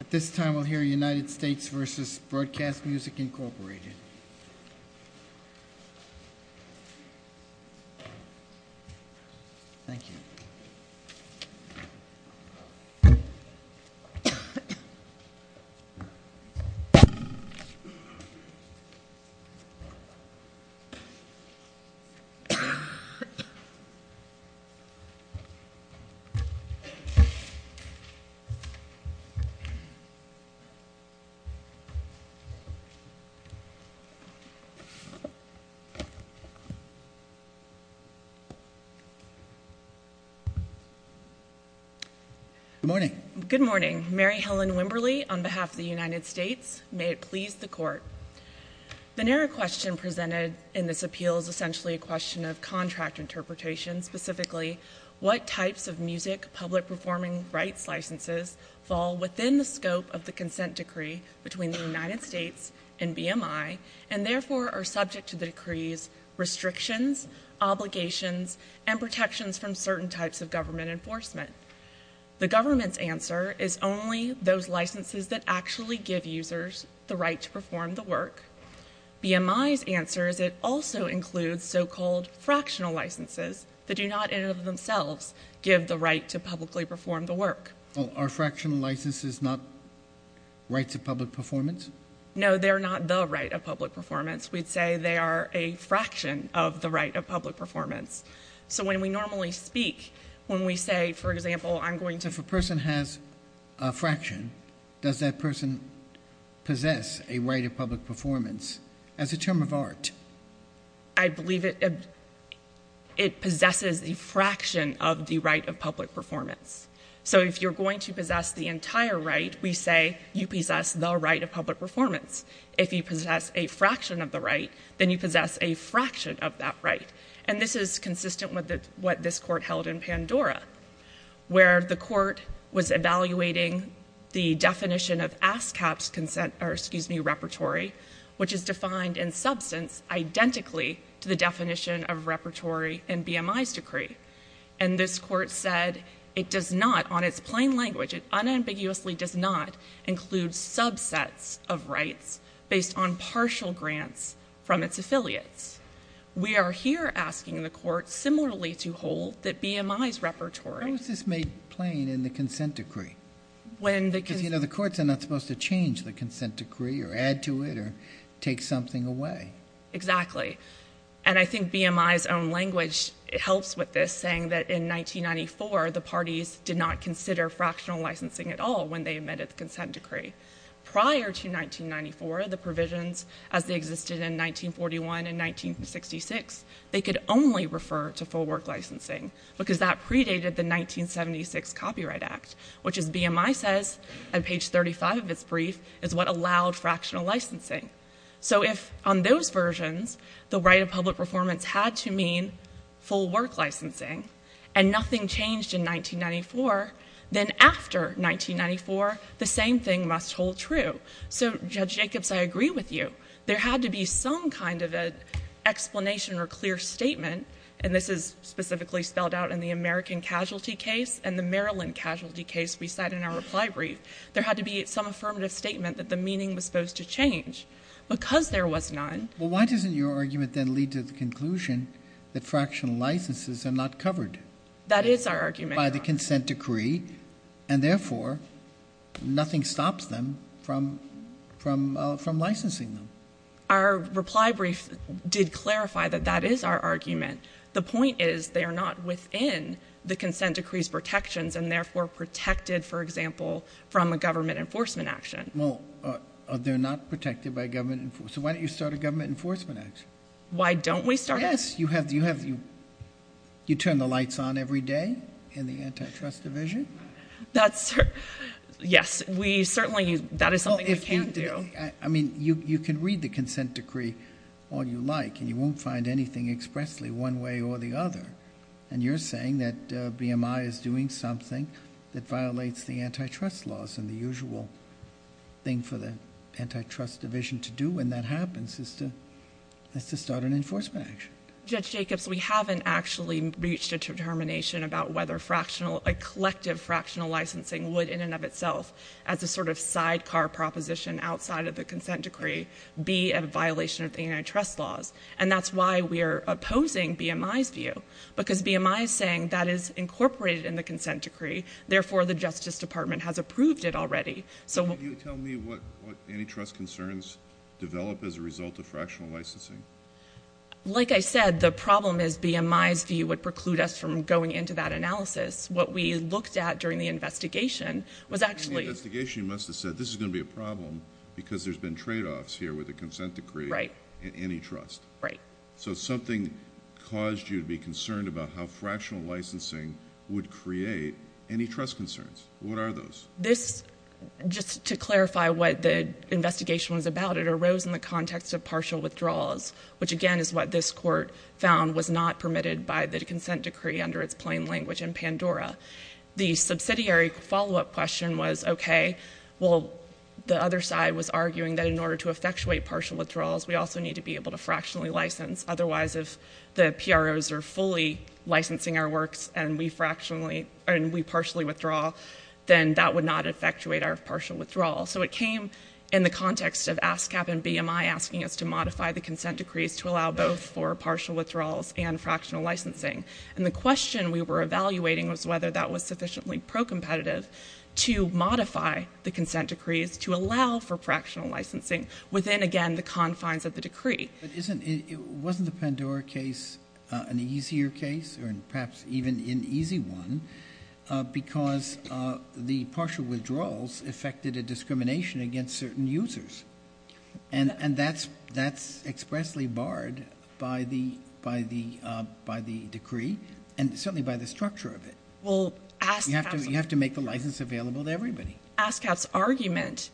At this time we'll hear United States v. Broadcast Music Incorporated. Good morning. Good morning. Mary Helen Wimberly on behalf of the United States. May it please the Court. The narrow question presented in this appeal is essentially a question of contract interpretation, and specifically what types of music public performing rights licenses fall within the scope of the consent decree between the United States and BMI, and therefore are subject to the decree's restrictions, obligations, and protections from certain types of government enforcement. The government's answer is only those licenses that actually give users the right to perform the work. BMI's answer is it also includes so-called fractional licenses that do not in and of themselves give the right to publicly perform the work. Are fractional licenses not rights of public performance? No, they're not the right of public performance. We'd say they are a fraction of the right of public performance. So when we normally speak, when we say, for example, I'm going to If a person has a fraction, does that person possess a right of public performance as a term of art? I believe it possesses a fraction of the right of public performance. So if you're going to possess the entire right, we say you possess the right of public performance. If you possess a fraction of the right, then you possess a fraction of that right. And this is consistent with what this court held in Pandora, where the court was evaluating the definition of ASCAP's consent, or excuse me, repertory, which is defined in substance identically to the definition of repertory in BMI's decree. And this court said it does not, on its plain language, it unambiguously does not include subsets of rights based on partial grants from its affiliates. We are here asking the court similarly to hold that BMI's repertory How is this made plain in the consent decree? When the Because, you know, the courts are not supposed to change the consent decree or add to it or take something away. Exactly. And I think BMI's own language helps with this, saying that in 1994, the parties did not consider fractional licensing at all when they admitted the consent decree. Prior to 1994, the provisions as they existed in 1941 and 1966, they could only refer to full work licensing, because that predated the 1976 Copyright Act, which as BMI says on page 35 of its brief, is what allowed fractional licensing. So if on those versions, the right of public performance had to mean full work licensing and nothing changed in 1994, then after 1994, the same thing must hold true. So Judge Jacobs, I agree with you. There had to be some kind of an explanation or clear statement, and this is specifically spelled out in the American casualty case and the Maryland casualty case we cite in our reply brief. There had to be some affirmative statement that the meaning was supposed to change. Because there was none. Well, why doesn't your argument then lead to the conclusion that fractional licenses are not covered? That is our argument. By the consent decree, and therefore, nothing stops them from licensing them. Our reply brief did clarify that that is our argument. The point is, they are not within the consent decree's protections, and therefore protected, for example, from a government enforcement action. Well, they're not protected by government enforcement, so why don't you start a government enforcement action? Why don't we start a- Yes, you turn the lights on every day in the antitrust division. That's- yes, we certainly- that is something we can do. I mean, you can read the consent decree all you like, and you won't find anything expressly one way or the other. And you're saying that BMI is doing something that violates the antitrust laws, and the usual thing for the antitrust division to do when that happens is to start an enforcement action. Judge Jacobs, we haven't actually reached a determination about whether a collective fractional licensing would, in and of itself, as a sort of sidecar proposition outside of the consent decree, be a violation of the antitrust laws. And that's why we're opposing BMI's view, because BMI is saying that is incorporated in the consent decree, therefore, the Justice Department has approved it already. So what- Can you tell me what antitrust concerns develop as a result of fractional licensing? Like I said, the problem is BMI's view would preclude us from going into that analysis. What we looked at during the investigation was actually- During the investigation, you must have said, this is going to be a problem because there's been tradeoffs here with the consent decree and antitrust. So something caused you to be concerned about how fractional licensing would create antitrust concerns. What are those? This, just to clarify what the investigation was about, it arose in the context of partial withdrawals, which, again, is what this court found was not permitted by the consent decree under its plain language in Pandora. The subsidiary follow-up question was, okay, well, the other side was arguing that in order to effectuate partial withdrawals, we also need to be able to fractionally license. Otherwise, if the PROs are fully licensing our works and we fractionally- and we partially withdraw, then that would not effectuate our partial withdrawal. So it came in the context of ASCAP and BMI asking us to modify the consent decrees to allow both for partial withdrawals and fractional licensing. And the question we were evaluating was whether that was sufficiently pro-competitive to modify the consent decrees to allow for fractional licensing within, again, the confines of the decree. But isn't- wasn't the Pandora case an easier case or perhaps even an easy one because the certain users. And that's expressly barred by the decree and certainly by the structure of it. Well, ASCAP's- You have to make the license available to everybody. ASCAP's argument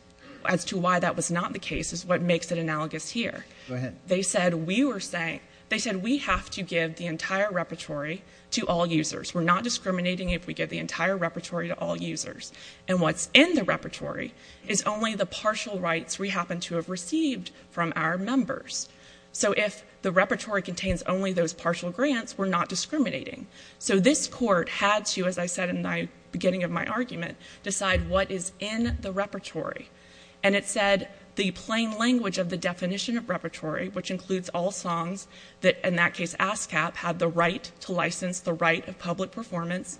as to why that was not the case is what makes it analogous here. Go ahead. They said we were saying- they said we have to give the entire repertory to all users. We're not discriminating if we give the entire repertory to all users. And what's in the repertory is only the partial rights we happen to have received from our members. So if the repertory contains only those partial grants, we're not discriminating. So this court had to, as I said in the beginning of my argument, decide what is in the repertory. And it said the plain language of the definition of repertory, which includes all songs that in that case ASCAP had the right to license the right of public performance,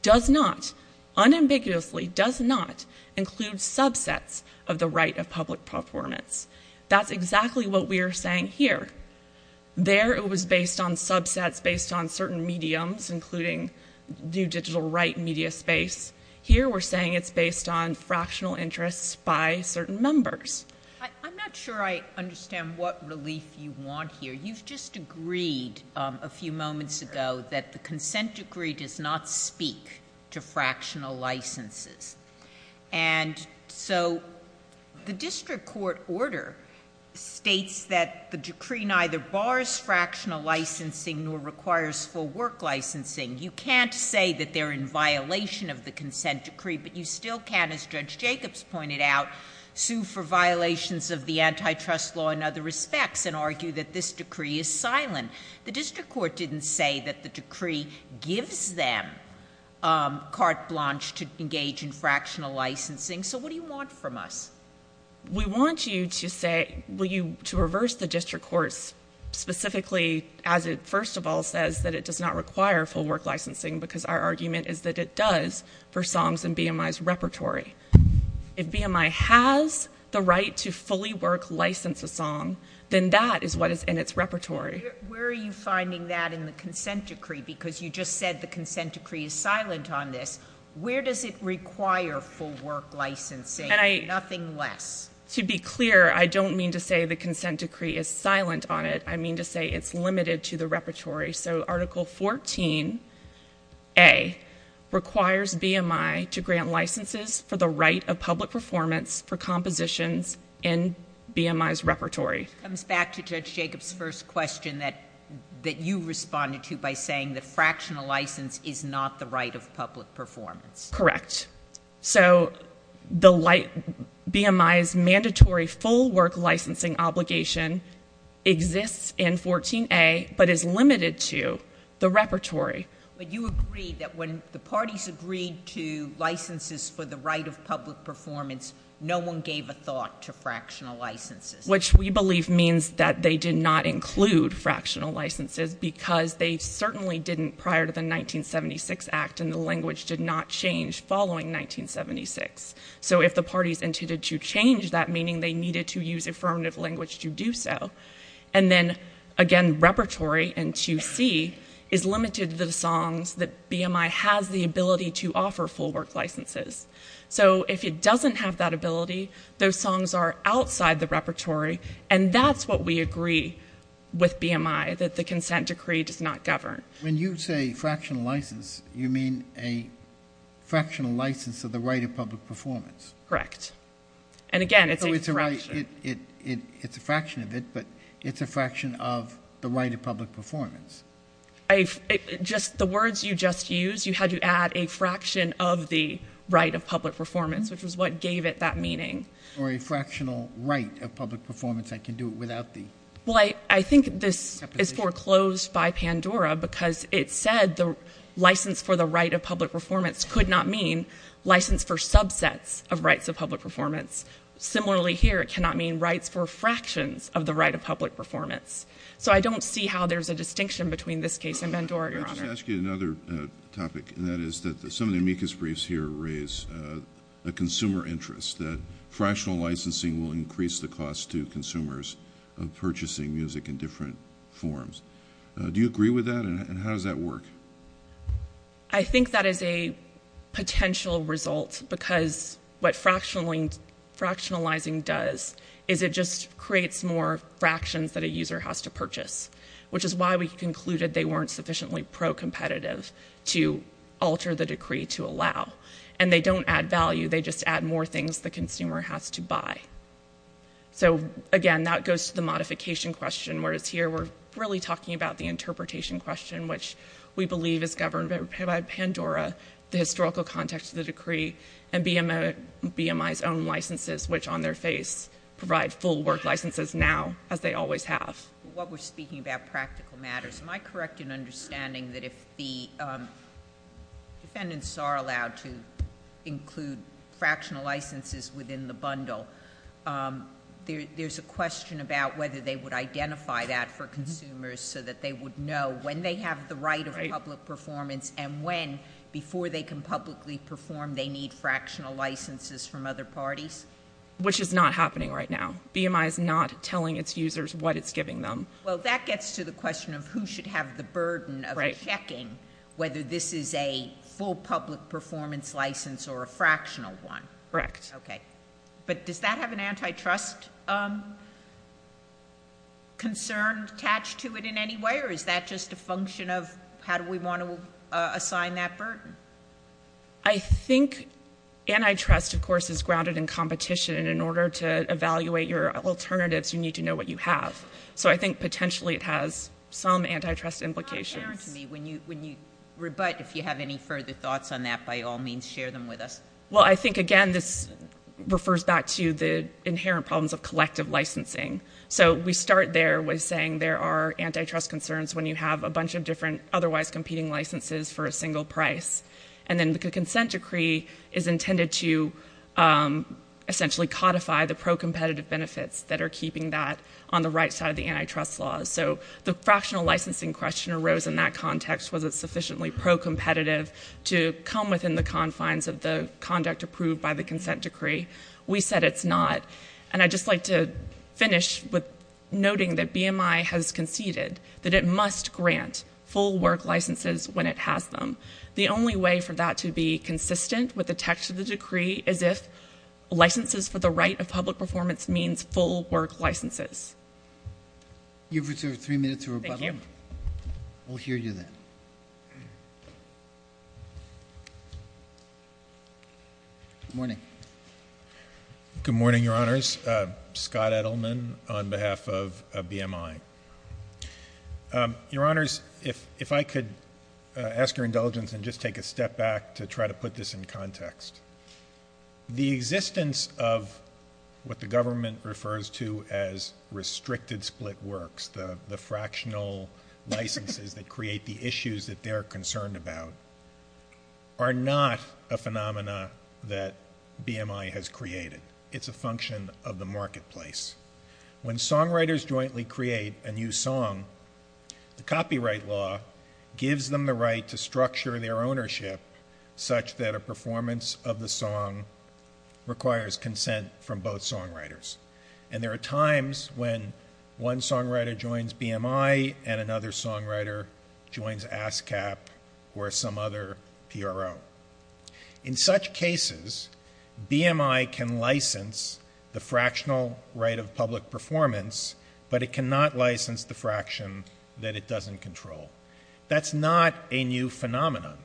does not unambiguously does not include subsets of the right of public performance. That's exactly what we are saying here. There it was based on subsets based on certain mediums, including new digital right media space. Here we're saying it's based on fractional interests by certain members. I'm not sure I understand what relief you want here. You've just agreed a few moments ago that the consent decree does not speak to fractional licenses. And so the district court order states that the decree neither bars fractional licensing nor requires full work licensing. You can't say that they're in violation of the consent decree, but you still can, as Judge Jacobs pointed out, sue for violations of the antitrust law in other respects and argue that this decree is silent. The district court didn't say that the decree gives them carte blanche to engage in fractional licensing. So what do you want from us? We want you to say, to reverse the district court's specifically, as it first of all says, that it does not require full work licensing because our argument is that it does for songs in BMI's repertory. If BMI has the right to fully work license a song, then that is what is in its repertory. Where are you finding that in the consent decree? Because you just said the consent decree is silent on this. Where does it require full work licensing? Nothing less. To be clear, I don't mean to say the consent decree is silent on it. I mean to say it's limited to the repertory. So Article 14A requires BMI to grant licenses for the right of public performance for compositions in BMI's repertory. It comes back to Judge Jacobs' first question that you responded to by saying that fractional license is not the right of public performance. Correct. So the BMI's mandatory full work licensing obligation exists in 14A but is limited to the repertory. But you agreed that when the parties agreed to licenses for the right of public performance, no one gave a thought to fractional licenses. Which we believe means that they did not include fractional licenses because they certainly didn't prior to the 1976 Act and the language did not change following 1976. So if the parties intended to change that, meaning they needed to use affirmative language to do so. And then, again, repertory in 2C is limited to the songs that BMI has the ability to offer full work licenses. So if it doesn't have that ability, those songs are outside the repertory and that's what we agree with BMI, that the consent decree does not govern. When you say fractional license, you mean a fractional license of the right of public performance. Correct. And, again, it's a fraction. It's a fraction of it, but it's a fraction of the right of public performance. The words you just used, you had to add a fraction of the right of public performance, which is what gave it that meaning. Or a fractional right of public performance. I can do it without the... Well, I think this is foreclosed by Pandora because it said the license for the right of public performance could not mean license for subsets of rights of public performance. Similarly here, it cannot mean rights for fractions of the right of public performance. So I don't see how there's a distinction between this case and Pandora, Your Honor. Let me ask you another topic, and that is that some of the amicus briefs here raise the consumer interest, that fractional licensing will increase the cost to consumers of purchasing music in different forms. Do you agree with that, and how does that work? I think that is a potential result because what fractionalizing does is it just creates more fractions that a user has to purchase, which is why we concluded they weren't sufficiently pro-competitive to alter the decree to allow. And they don't add value. They just add more things the consumer has to buy. So again, that goes to the modification question, whereas here we're really talking about the interpretation question, which we believe is governed by Pandora, the historical context of the decree, and BMI's own licenses, which on their face provide full work licenses now, as they always have. What we're speaking about practical matters. Am I correct in understanding that if the defendants are allowed to include fractional licenses within the bundle, there's a question about whether they would identify that for consumers so that they would know when they have the right of public performance and when, before they can publicly perform, they need fractional licenses from other parties? Which is not happening right now. BMI is not telling its users what it's giving them. Well, that gets to the question of who should have the burden of checking whether this is a full public performance license or a fractional one. Correct. Okay. But does that have an antitrust concern attached to it in any way, or is that just a function of how do we want to assign that burden? I think antitrust, of course, is grounded in competition. In order to evaluate your alternatives, you need to know what you have. So I think potentially it has some antitrust implications. When you rebut, if you have any further thoughts on that, by all means, share them with us. Well, I think, again, this refers back to the inherent problems of collective licensing. So we start there with saying there are antitrust concerns when you have a bunch of different otherwise competing licenses for a single price. And then the consent decree is intended to essentially codify the pro-competitive benefits that are keeping that on the right side of the antitrust laws. So the fractional licensing question arose in that context. Was it sufficiently pro-competitive to come within the confines of the conduct approved by the consent decree? We said it's not. And I'd just like to finish with noting that BMI has conceded that it must grant full work licenses when it has them. The only way for that to be consistent with the text of the decree is if licenses for the right of public performance means full work licenses. You've reserved three minutes for rebuttal. Thank you. We'll hear you then. Good morning. Good morning, Your Honors. Scott Edelman on behalf of BMI. Your Honors, if I could ask your indulgence and just take a step back to try to put this in context. The existence of what the government refers to as restricted split works, the fractional licenses that create the issues that they're concerned about, are not a phenomena that BMI has created. It's a function of the marketplace. When songwriters jointly create a new song, the copyright law gives them the right to use the song. The copyright of the song requires consent from both songwriters. And there are times when one songwriter joins BMI and another songwriter joins ASCAP or some other PRO. In such cases, BMI can license the fractional right of public performance, but it cannot license the fraction that it doesn't control. That's not a new phenomenon.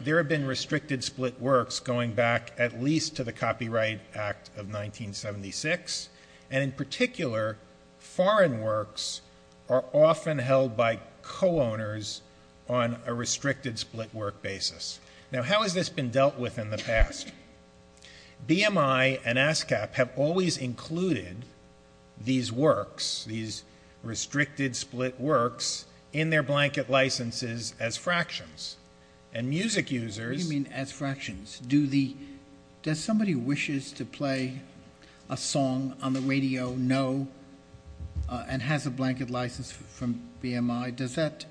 There have been restricted split works going back at least to the Copyright Act of 1976. And in particular, foreign works are often held by co-owners on a restricted split work basis. Now, how has this been dealt with in the past? BMI and ASCAP have always included these works, these restricted split works, in their What do you mean, as fractions? Does somebody who wishes to play a song on the radio know and has a blanket license from BMI? Does that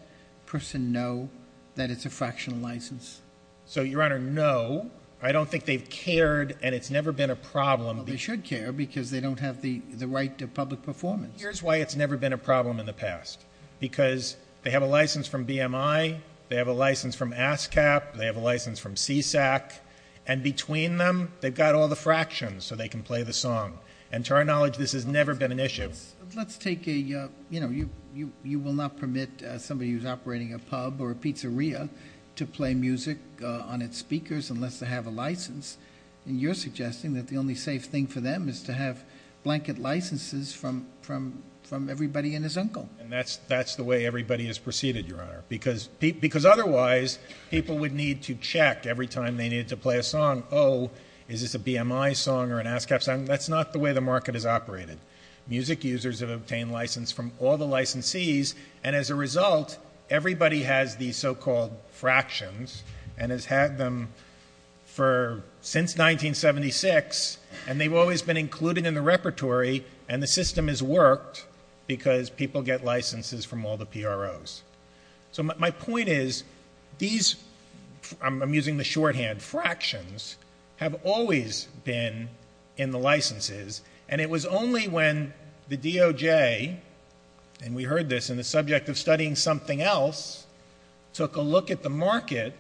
person know that it's a fractional license? So, Your Honor, no. I don't think they've cared, and it's never been a problem. Well, they should care, because they don't have the right to public performance. Here's why it's never been a problem in the past. Because they have a license from BMI. They have a license from ASCAP. They have a license from CSAC. And between them, they've got all the fractions, so they can play the song. And to our knowledge, this has never been an issue. Let's take a, you know, you will not permit somebody who's operating a pub or a pizzeria to play music on its speakers unless they have a license. And you're suggesting that the only safe thing for them is to have blanket licenses from everybody and his uncle. And that's the way everybody has proceeded, Your Honor. Because otherwise, people would need to check every time they needed to play a song, oh, is this a BMI song or an ASCAP song? That's not the way the market has operated. Music users have obtained license from all the licensees, and as a result, everybody has these so-called fractions and has had them for, since 1976, and they've always been included in the repertory, and the system has worked because people get licenses from all the PROs. So my point is, these, I'm using the shorthand, fractions, have always been in the licenses, and it was only when the DOJ, and we heard this in the subject of studying something else, took a look at the market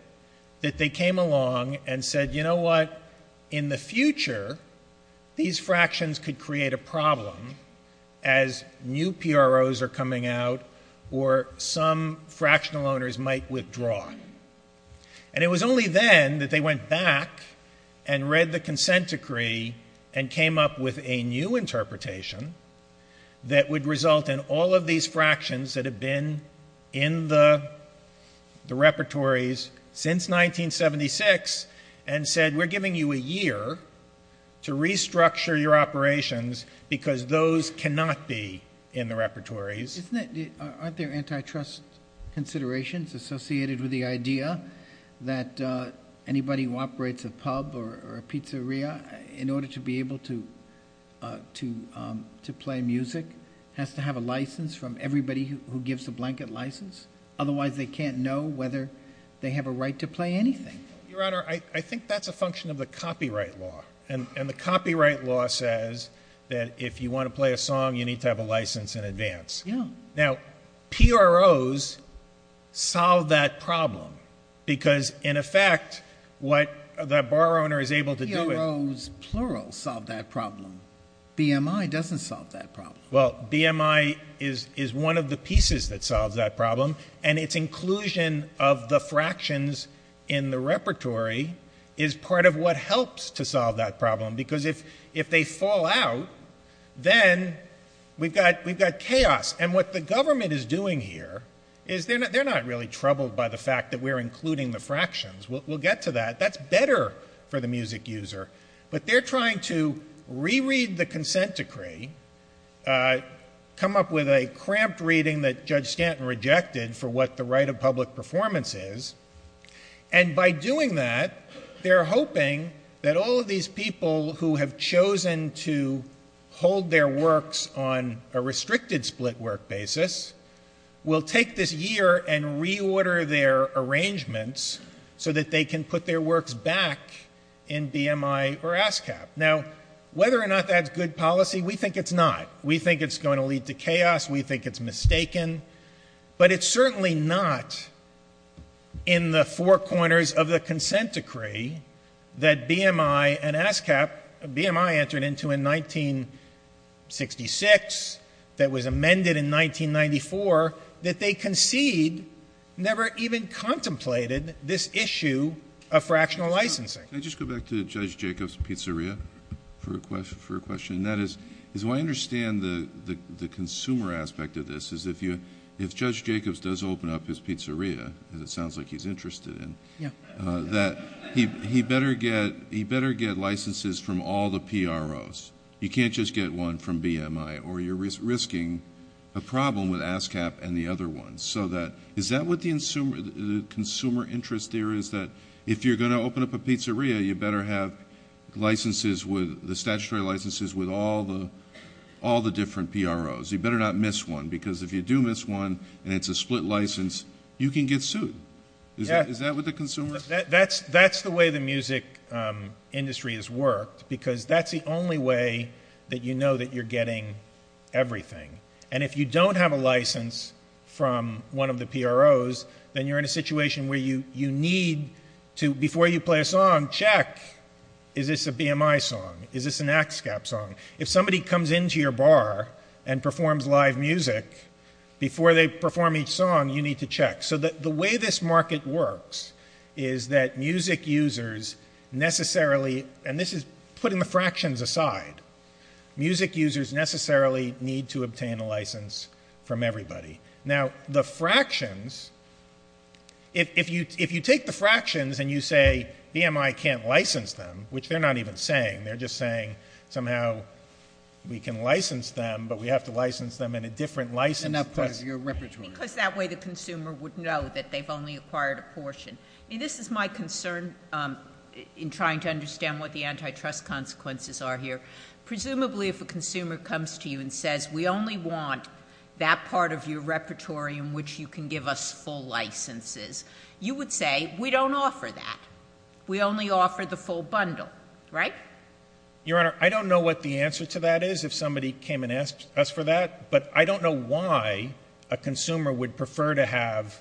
that they came along and said, you know what, in the future, these fractions could create a problem as new PROs are coming out or some fractional owners might withdraw. And it was only then that they went back and read the consent decree and came up with a new interpretation that would result in all of these fractions that have been in the repertories since 1976 and said, we're giving you a year to restructure your operations because those cannot be in the repertories. Aren't there antitrust considerations associated with the idea that anybody who operates a pub or a pizzeria, in order to be able to play music, has to have a license from everybody who gives a blanket license? Otherwise they can't know whether they have a right to play anything. Your Honor, I think that's a function of the copyright law. And the copyright law says that if you want to play a song, you need to have a license in advance. Now, PROs solve that problem because, in effect, what that bar owner is able to do is – PROs, plural, solve that problem. BMI doesn't solve that problem. Well, BMI is one of the pieces that solves that problem. And its inclusion of the fractions in the repertory is part of what helps to solve that problem. Because if they fall out, then we've got chaos. And what the government is doing here is – they're not really troubled by the fact that we're including the fractions. We'll get to that. That's better for the music user. But they're trying to reread the consent decree, come up with a cramped reading that Judge Stanton rejected for what the right of public performance is. And by doing that, they're hoping that all of these people who have chosen to hold their works on a restricted split work basis will take this year and reorder their arrangements so that they can put their works back in BMI or ASCAP. Now, whether or not that's good policy, we think it's not. We think it's going to lead to chaos. We think it's mistaken. But it's certainly not in the four corners of the consent decree that BMI and ASCAP – that was amended in 1994 – that they concede never even contemplated this issue of fractional licensing. Can I just go back to Judge Jacobs' pizzeria for a question? And that is, the way I understand the consumer aspect of this is if Judge Jacobs does open up his pizzeria, as it sounds like he's interested in, that he better get licenses from all the PROs. You can't just get one from BMI, or you're risking a problem with ASCAP and the other ones. So is that what the consumer interest there is, that if you're going to open up a pizzeria, you better have the statutory licenses with all the different PROs? You better not miss one, because if you do miss one, and it's a split license, you can get sued. Is that what the consumer – That's the way the music industry has worked, because that's the only way that you know that you're getting everything. And if you don't have a license from one of the PROs, then you're in a situation where you need to, before you play a song, check, is this a BMI song? Is this an ASCAP song? If somebody comes into your bar and performs live music, before they perform each song, you need to check. So the way this market works is that music users necessarily – and this is putting the fractions aside – music users necessarily need to obtain a license from everybody. Now, the fractions – if you take the fractions and you say, BMI can't license them, which they're not even saying, they're just saying somehow we can license them, but we have to license them in a different license – In that part of your repertory. Because that way the consumer would know that they've only acquired a portion. I mean, this is my concern in trying to understand what the antitrust consequences are here. Presumably, if a consumer comes to you and says, we only want that part of your repertory in which you can give us full licenses, you would say, we don't offer that. We only offer the full bundle, right? Your Honor, I don't know what the answer to that is, if somebody came and asked us for that, but I don't know why a consumer would prefer to have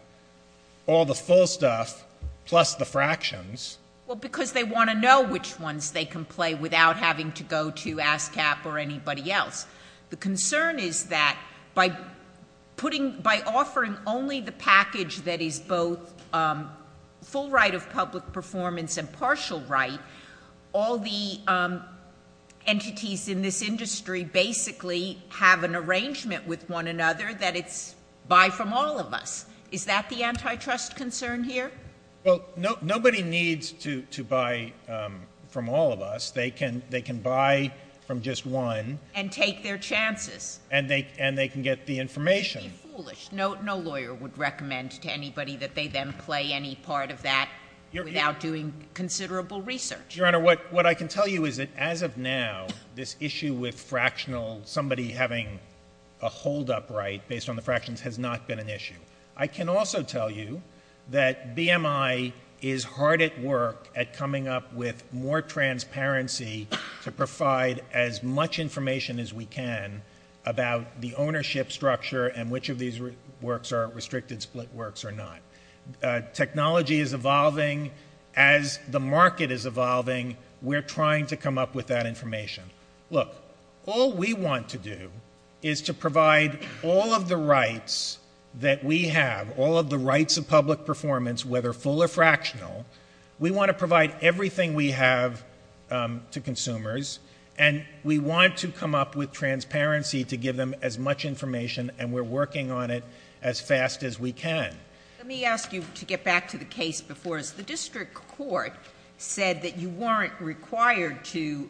all the full stuff plus the fractions. Well, because they want to know which ones they can play without having to go to ASCAP or anybody else. The concern is that by offering only the package that is both full right of public performance and partial right, all the entities in this industry basically have an arrangement with one another that it's buy from all of us. Is that the antitrust concern here? Well, nobody needs to buy from all of us. They can buy from just one. And take their chances. And they can get the information. Be foolish. No lawyer would recommend to anybody that they then play any part of that without doing considerable research. Your Honor, what I can tell you is that as of now, this issue with fractional, somebody having a holdup right based on the fractions has not been an issue. I can also tell you that BMI is hard at work at coming up with more transparency to provide as much information as we can about the ownership structure and which of these works are restricted split works or not. Technology is evolving. As the market is evolving, we're trying to come up with that information. Look, all we want to do is to provide all of the rights that we have, all of the rights of public performance, whether full or fractional, we want to provide everything we have to consumers, and we want to come up with transparency to give them as much information, and we're working on it as fast as we can. Let me ask you to get back to the case before us. The district court said that you weren't required to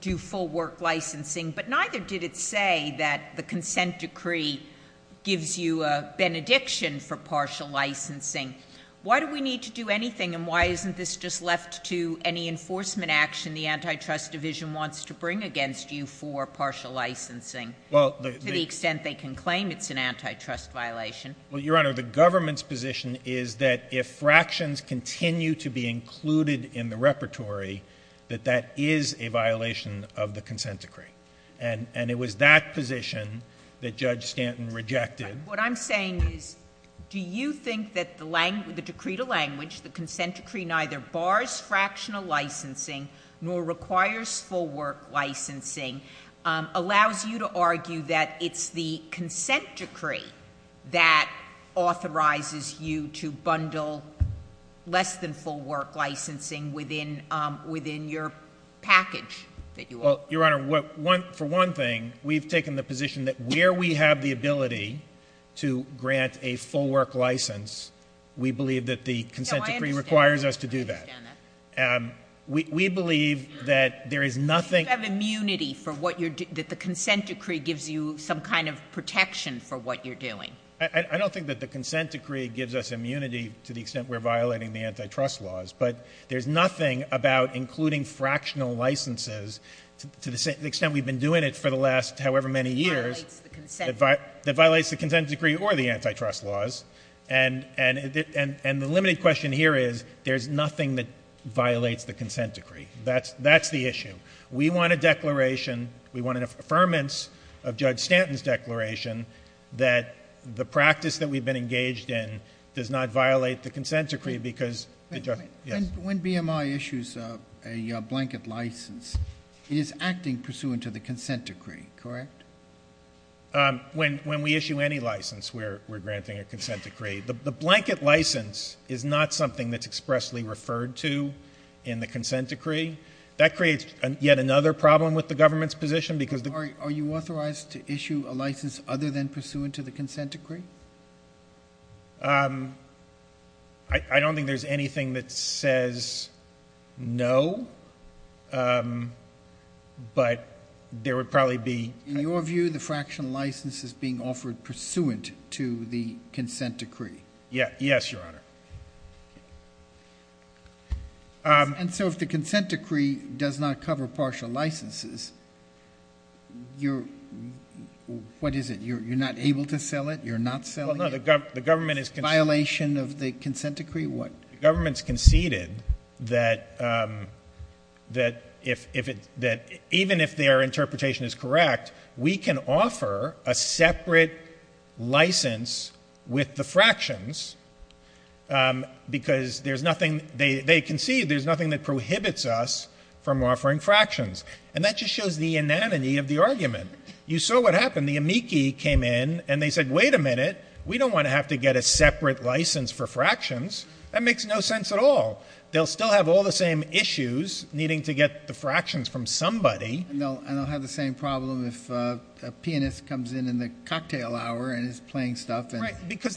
do full work licensing, but neither did it say that the consent decree gives you a benediction for partial licensing. Why do we need to do anything, and why isn't this just left to any enforcement action the antitrust division wants to bring against you for partial licensing, to the extent they can claim it's an antitrust violation? Well, Your Honor, the government's position is that if fractions continue to be included in the repertory, that that is a violation of the consent decree. And it was that position that Judge Stanton rejected. What I'm saying is, do you think that the decree to language, the consent decree, neither bars fractional licensing nor requires full work licensing, allows you to argue that it's the consent decree that authorizes you to bundle less than full work licensing within your package? Well, Your Honor, for one thing, we've taken the position that where we have the ability to grant a full work license, we believe that the consent decree requires us to do that. No, I understand that. We believe that there is nothing Do you have immunity that the consent decree gives you some kind of protection for what you're doing? I don't think that the consent decree gives us immunity to the extent we're violating the antitrust laws. But there's nothing about including fractional licenses, to the extent we've been doing it for the last however many years, that violates the consent decree or the antitrust laws. And the limited question here is, there's nothing that violates the consent decree. That's the issue. We want a declaration, we want an affirmance of Judge Stanton's declaration that the practice that we've been engaged in does not violate the consent decree because When BMI issues a blanket license, it is acting pursuant to the consent decree, correct? When we issue any license, we're granting a consent decree. The blanket license is not something that's expressly referred to in the consent decree. That creates yet another problem with the government's position because Are you authorized to issue a license other than pursuant to the consent decree? I don't think there's anything that says no, but there would probably be In your view, the fractional license is being offered pursuant to the consent decree? Yes, Your Honor. And so if the consent decree does not cover partial licenses, what is it? You're not able to sell it? You're not selling it? No, the government is conceded It's a violation of the consent decree? We can offer a separate license with the fractions because there's nothing They concede there's nothing that prohibits us from offering fractions. And that just shows the inanity of the argument. You saw what happened. The amici came in and they said, wait a minute. We don't want to have to get a separate license for fractions. That makes no sense at all. They'll still have all the same issues needing to get the fractions from somebody. And they'll have the same problem if a pianist comes in in the cocktail hour and is playing stuff.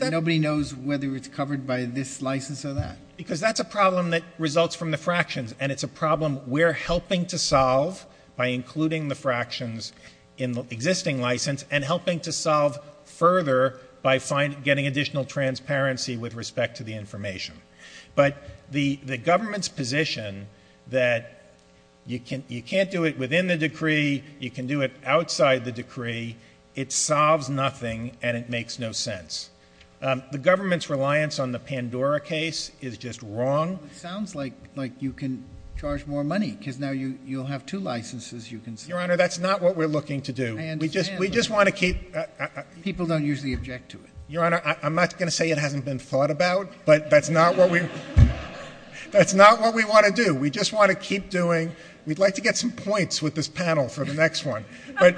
Nobody knows whether it's covered by this license or that. Because that's a problem that results from the fractions. And it's a problem we're helping to solve by including the fractions in the existing license and helping to solve further by getting additional transparency with respect to the information. But the government's position that you can't do it within the decree, you can do it outside the decree, it solves nothing and it makes no sense. The government's reliance on the Pandora case is just wrong. It sounds like you can charge more money because now you'll have two licenses you can sell. Your Honor, that's not what we're looking to do. I understand. We just want to keep People don't usually object to it. Your Honor, I'm not going to say it hasn't been thought about, but that's not what we want to do. We just want to keep doing We'd like to get some points with this panel for the next one. But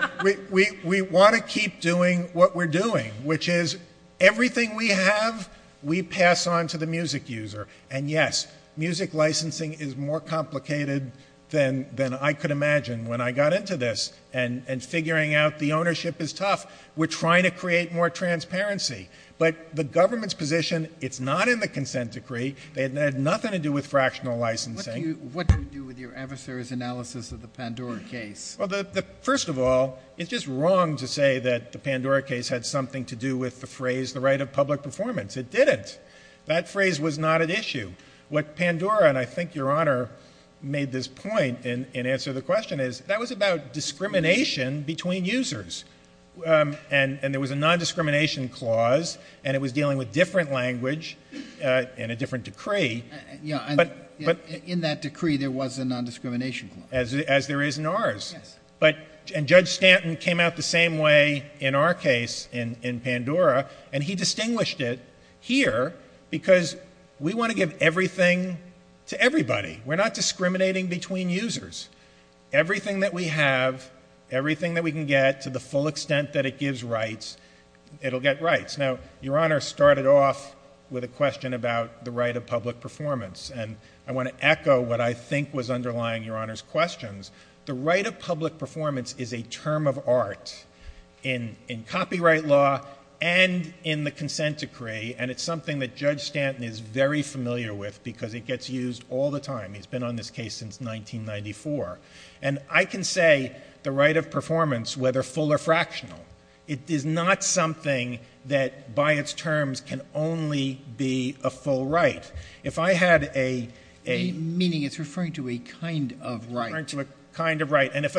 we want to keep doing what we're doing, which is everything we have, we pass on to the music user. And yes, music licensing is more complicated than I could imagine when I got into this and figuring out the ownership is tough. We're trying to create more transparency. But the government's position, it's not in the consent decree. It had nothing to do with fractional licensing. What do you do with your adversary's analysis of the Pandora case? First of all, it's just wrong to say that the Pandora case had something to do with the phrase, the right of public performance. It didn't. That phrase was not at issue. What Pandora, and I think Your Honor made this point in answer to the question, that was about discrimination between users. And there was a nondiscrimination clause, and it was dealing with different language and a different decree. In that decree, there was a nondiscrimination clause. As there is in ours. Yes. And Judge Stanton came out the same way in our case in Pandora, and he distinguished it here because we want to give everything to everybody. We're not discriminating between users. Everything that we have, everything that we can get to the full extent that it gives rights, it'll get rights. Now, Your Honor started off with a question about the right of public performance. And I want to echo what I think was underlying Your Honor's questions. The right of public performance is a term of art in copyright law and in the consent decree, and it's something that Judge Stanton is very familiar with because it gets used all the time. It's been on this case since 1994. And I can say the right of performance, whether full or fractional, it is not something that by its terms can only be a full right. If I had a... Meaning it's referring to a kind of right. Referring to a kind of right. And if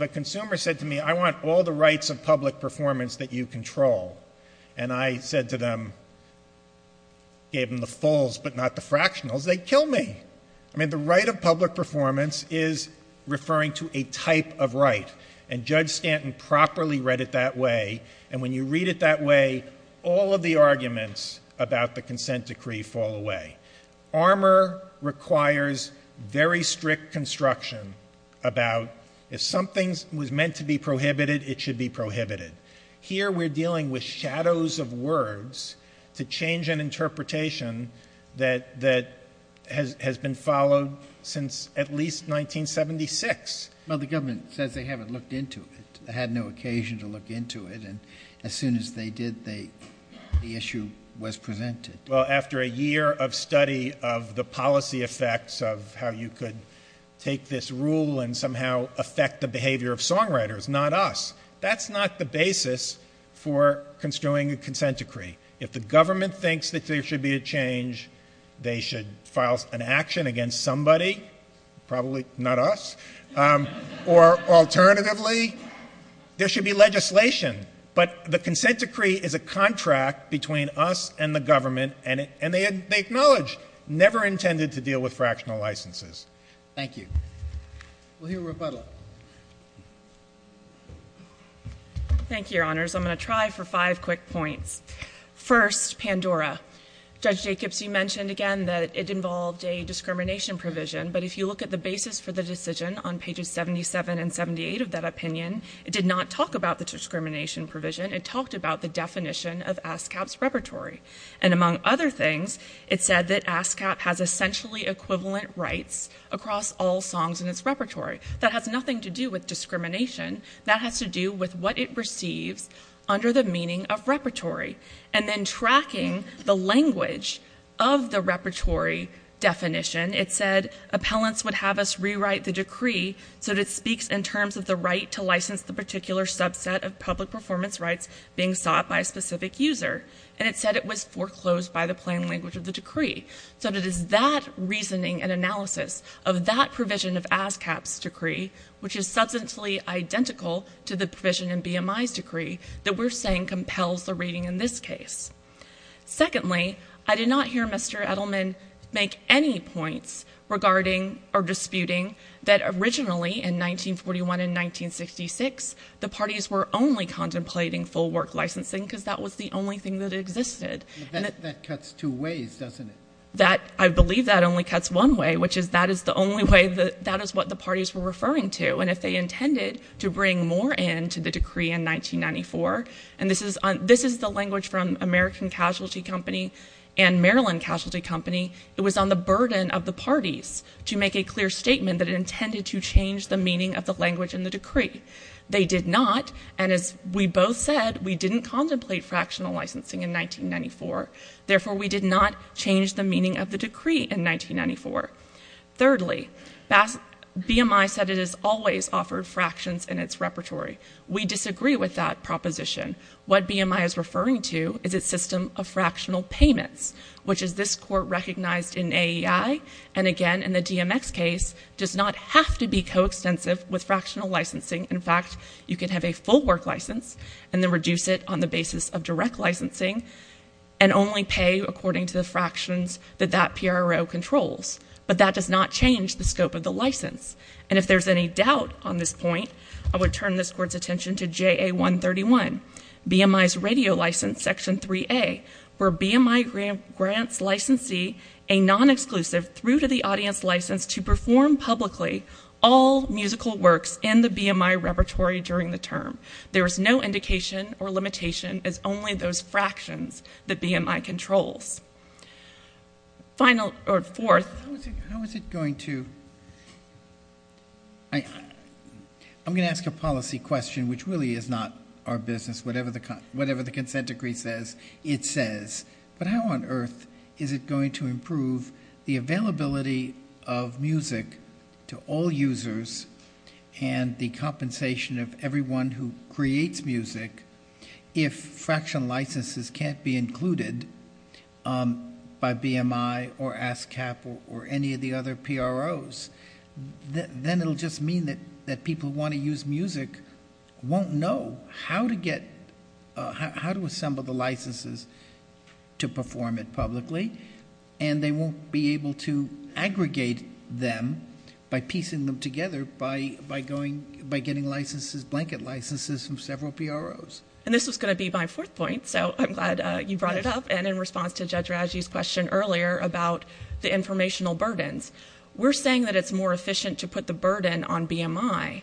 a consumer said to me, I want all the rights of public performance that you control, and I said to them, gave them the fulls but not the fractionals, they'd kill me. I mean, the right of public performance is referring to a type of right. And Judge Stanton properly read it that way. And when you read it that way, all of the arguments about the consent decree fall away. ARMOR requires very strict construction about if something was meant to be prohibited, it should be prohibited. Here we're dealing with shadows of words to change an interpretation that has been followed since at least 1976. Well, the government says they haven't looked into it. They had no occasion to look into it. And as soon as they did, the issue was presented. Well, after a year of study of the policy effects of how you could take this rule and somehow affect the behavior of songwriters, not us. That's not the basis for construing a consent decree. If the government thinks that there should be a change, they should file an action against somebody. Probably not us. Or alternatively, there should be legislation. But the consent decree is a contract between us and the government, and they acknowledge never intended to deal with fractional licenses. Thank you. We'll hear Rebecca. Thank you, Your Honors. I'm going to try for five quick points. First, Pandora. Judge Jacobs, you mentioned again that it involved a discrimination provision, but if you look at the basis for the decision on pages 77 and 78 of that opinion, it did not talk about the discrimination provision. It talked about the definition of ASCAP's repertory. And among other things, it said that ASCAP has essentially equivalent rights across all songs in its repertory. That has nothing to do with discrimination. That has to do with what it receives under the meaning of repertory. And then tracking the language of the repertory definition, it said appellants would have us rewrite the decree so that it speaks in terms of the right to license the particular subset of public performance rights being sought by a specific user. And it said it was foreclosed by the plain language of the decree. So it is that reasoning and analysis of that provision of ASCAP's decree, which is substantially identical to the provision in BMI's decree, that we're saying compels the reading in this case. Secondly, I did not hear Mr. Edelman make any points regarding or disputing that originally, in 1941 and 1966, the parties were only contemplating full work licensing because that was the only thing that existed. That cuts two ways, doesn't it? I believe that only cuts one way, which is that is the only way that is what the parties were referring to. And if they intended to bring more in to the decree in 1994, and this is the language from American Casualty Company and Maryland Casualty Company, it was on the burden of the parties to make a clear statement They did not, and as we both said, we didn't contemplate fractional licensing in 1994. Therefore, we did not change the meaning of the decree in 1994. Thirdly, BMI said it has always offered fractions in its repertory. We disagree with that proposition. What BMI is referring to is its system of fractional payments, which is this court recognized in AEI, and again, in the DMX case, does not have to be coextensive with fractional licensing. In fact, you can have a full work license and then reduce it on the basis of direct licensing and only pay according to the fractions that that PRO controls. But that does not change the scope of the license. And if there's any doubt on this point, I would turn this Court's attention to JA-131, BMI's radio license, Section 3A, where BMI grants licensee a non-exclusive through-to-the-audience license to perform publicly all musical works in the BMI repertory during the term. There is no indication or limitation as only those fractions that BMI controls. Fourth... How is it going to... I'm going to ask a policy question, which really is not our business. Whatever the consent decree says, it says. But how on earth is it going to improve the availability of music to all users and the compensation of everyone who creates music if fractional licenses can't be included by BMI or ASCAP or any of the other PROs? Then it will just mean that people who want to use music won't know how to assemble the licenses to perform it publicly, and they won't be able to aggregate them by piecing them together by getting blanket licenses from several PROs. And this was going to be my fourth point, so I'm glad you brought it up. And in response to Judge Raju's question earlier about the informational burdens, we're saying that it's more efficient to put the burden on BMI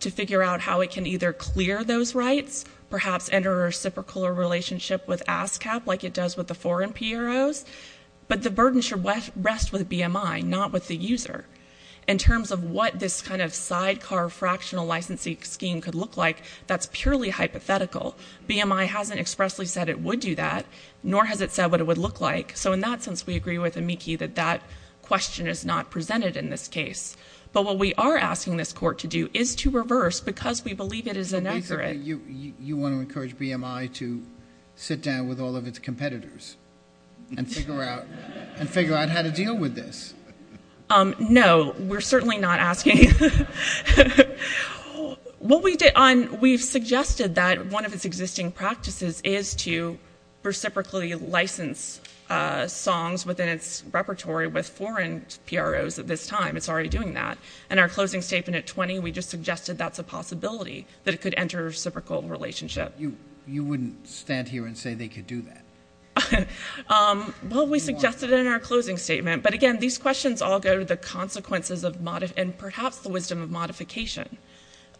to figure out how it can either clear those rights, perhaps enter a reciprocal relationship with ASCAP like it does with the foreign PROs, but the burden should rest with BMI, not with the user. In terms of what this kind of sidecar fractional licensing scheme could look like, that's purely hypothetical. BMI hasn't expressly said it would do that, nor has it said what it would look like. So in that sense, we agree with Amiki that that question is not presented in this case. But what we are asking this court to do is to reverse because we believe it is inaccurate. You want to encourage BMI to sit down with all of its competitors and figure out how to deal with this. No, we're certainly not asking. We've suggested that one of its existing practices is to reciprocally license songs within its repertory with foreign PROs at this time. It's already doing that. In our closing statement at 20, we just suggested that's a possibility, that it could enter a reciprocal relationship. You wouldn't stand here and say they could do that? Well, we suggested it in our closing statement. But again, these questions all go to the consequences and perhaps the wisdom of modification.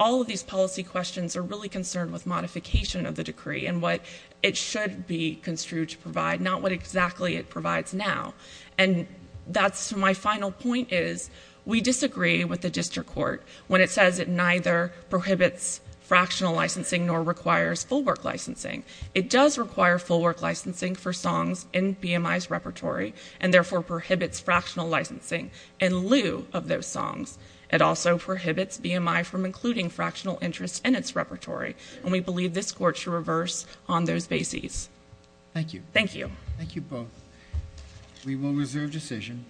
All of these policy questions are really concerned with modification of the decree and what it should be construed to provide, not what exactly it provides now. And that's my final point is we disagree with the district court when it says it neither prohibits fractional licensing nor requires full work licensing. It does require full work licensing for songs in BMI's repertory and therefore prohibits fractional licensing in lieu of those songs. It also prohibits BMI from including fractional interest in its repertory. And we believe this court should reverse on those bases. Thank you. Thank you. Thank you both. We will reserve decision.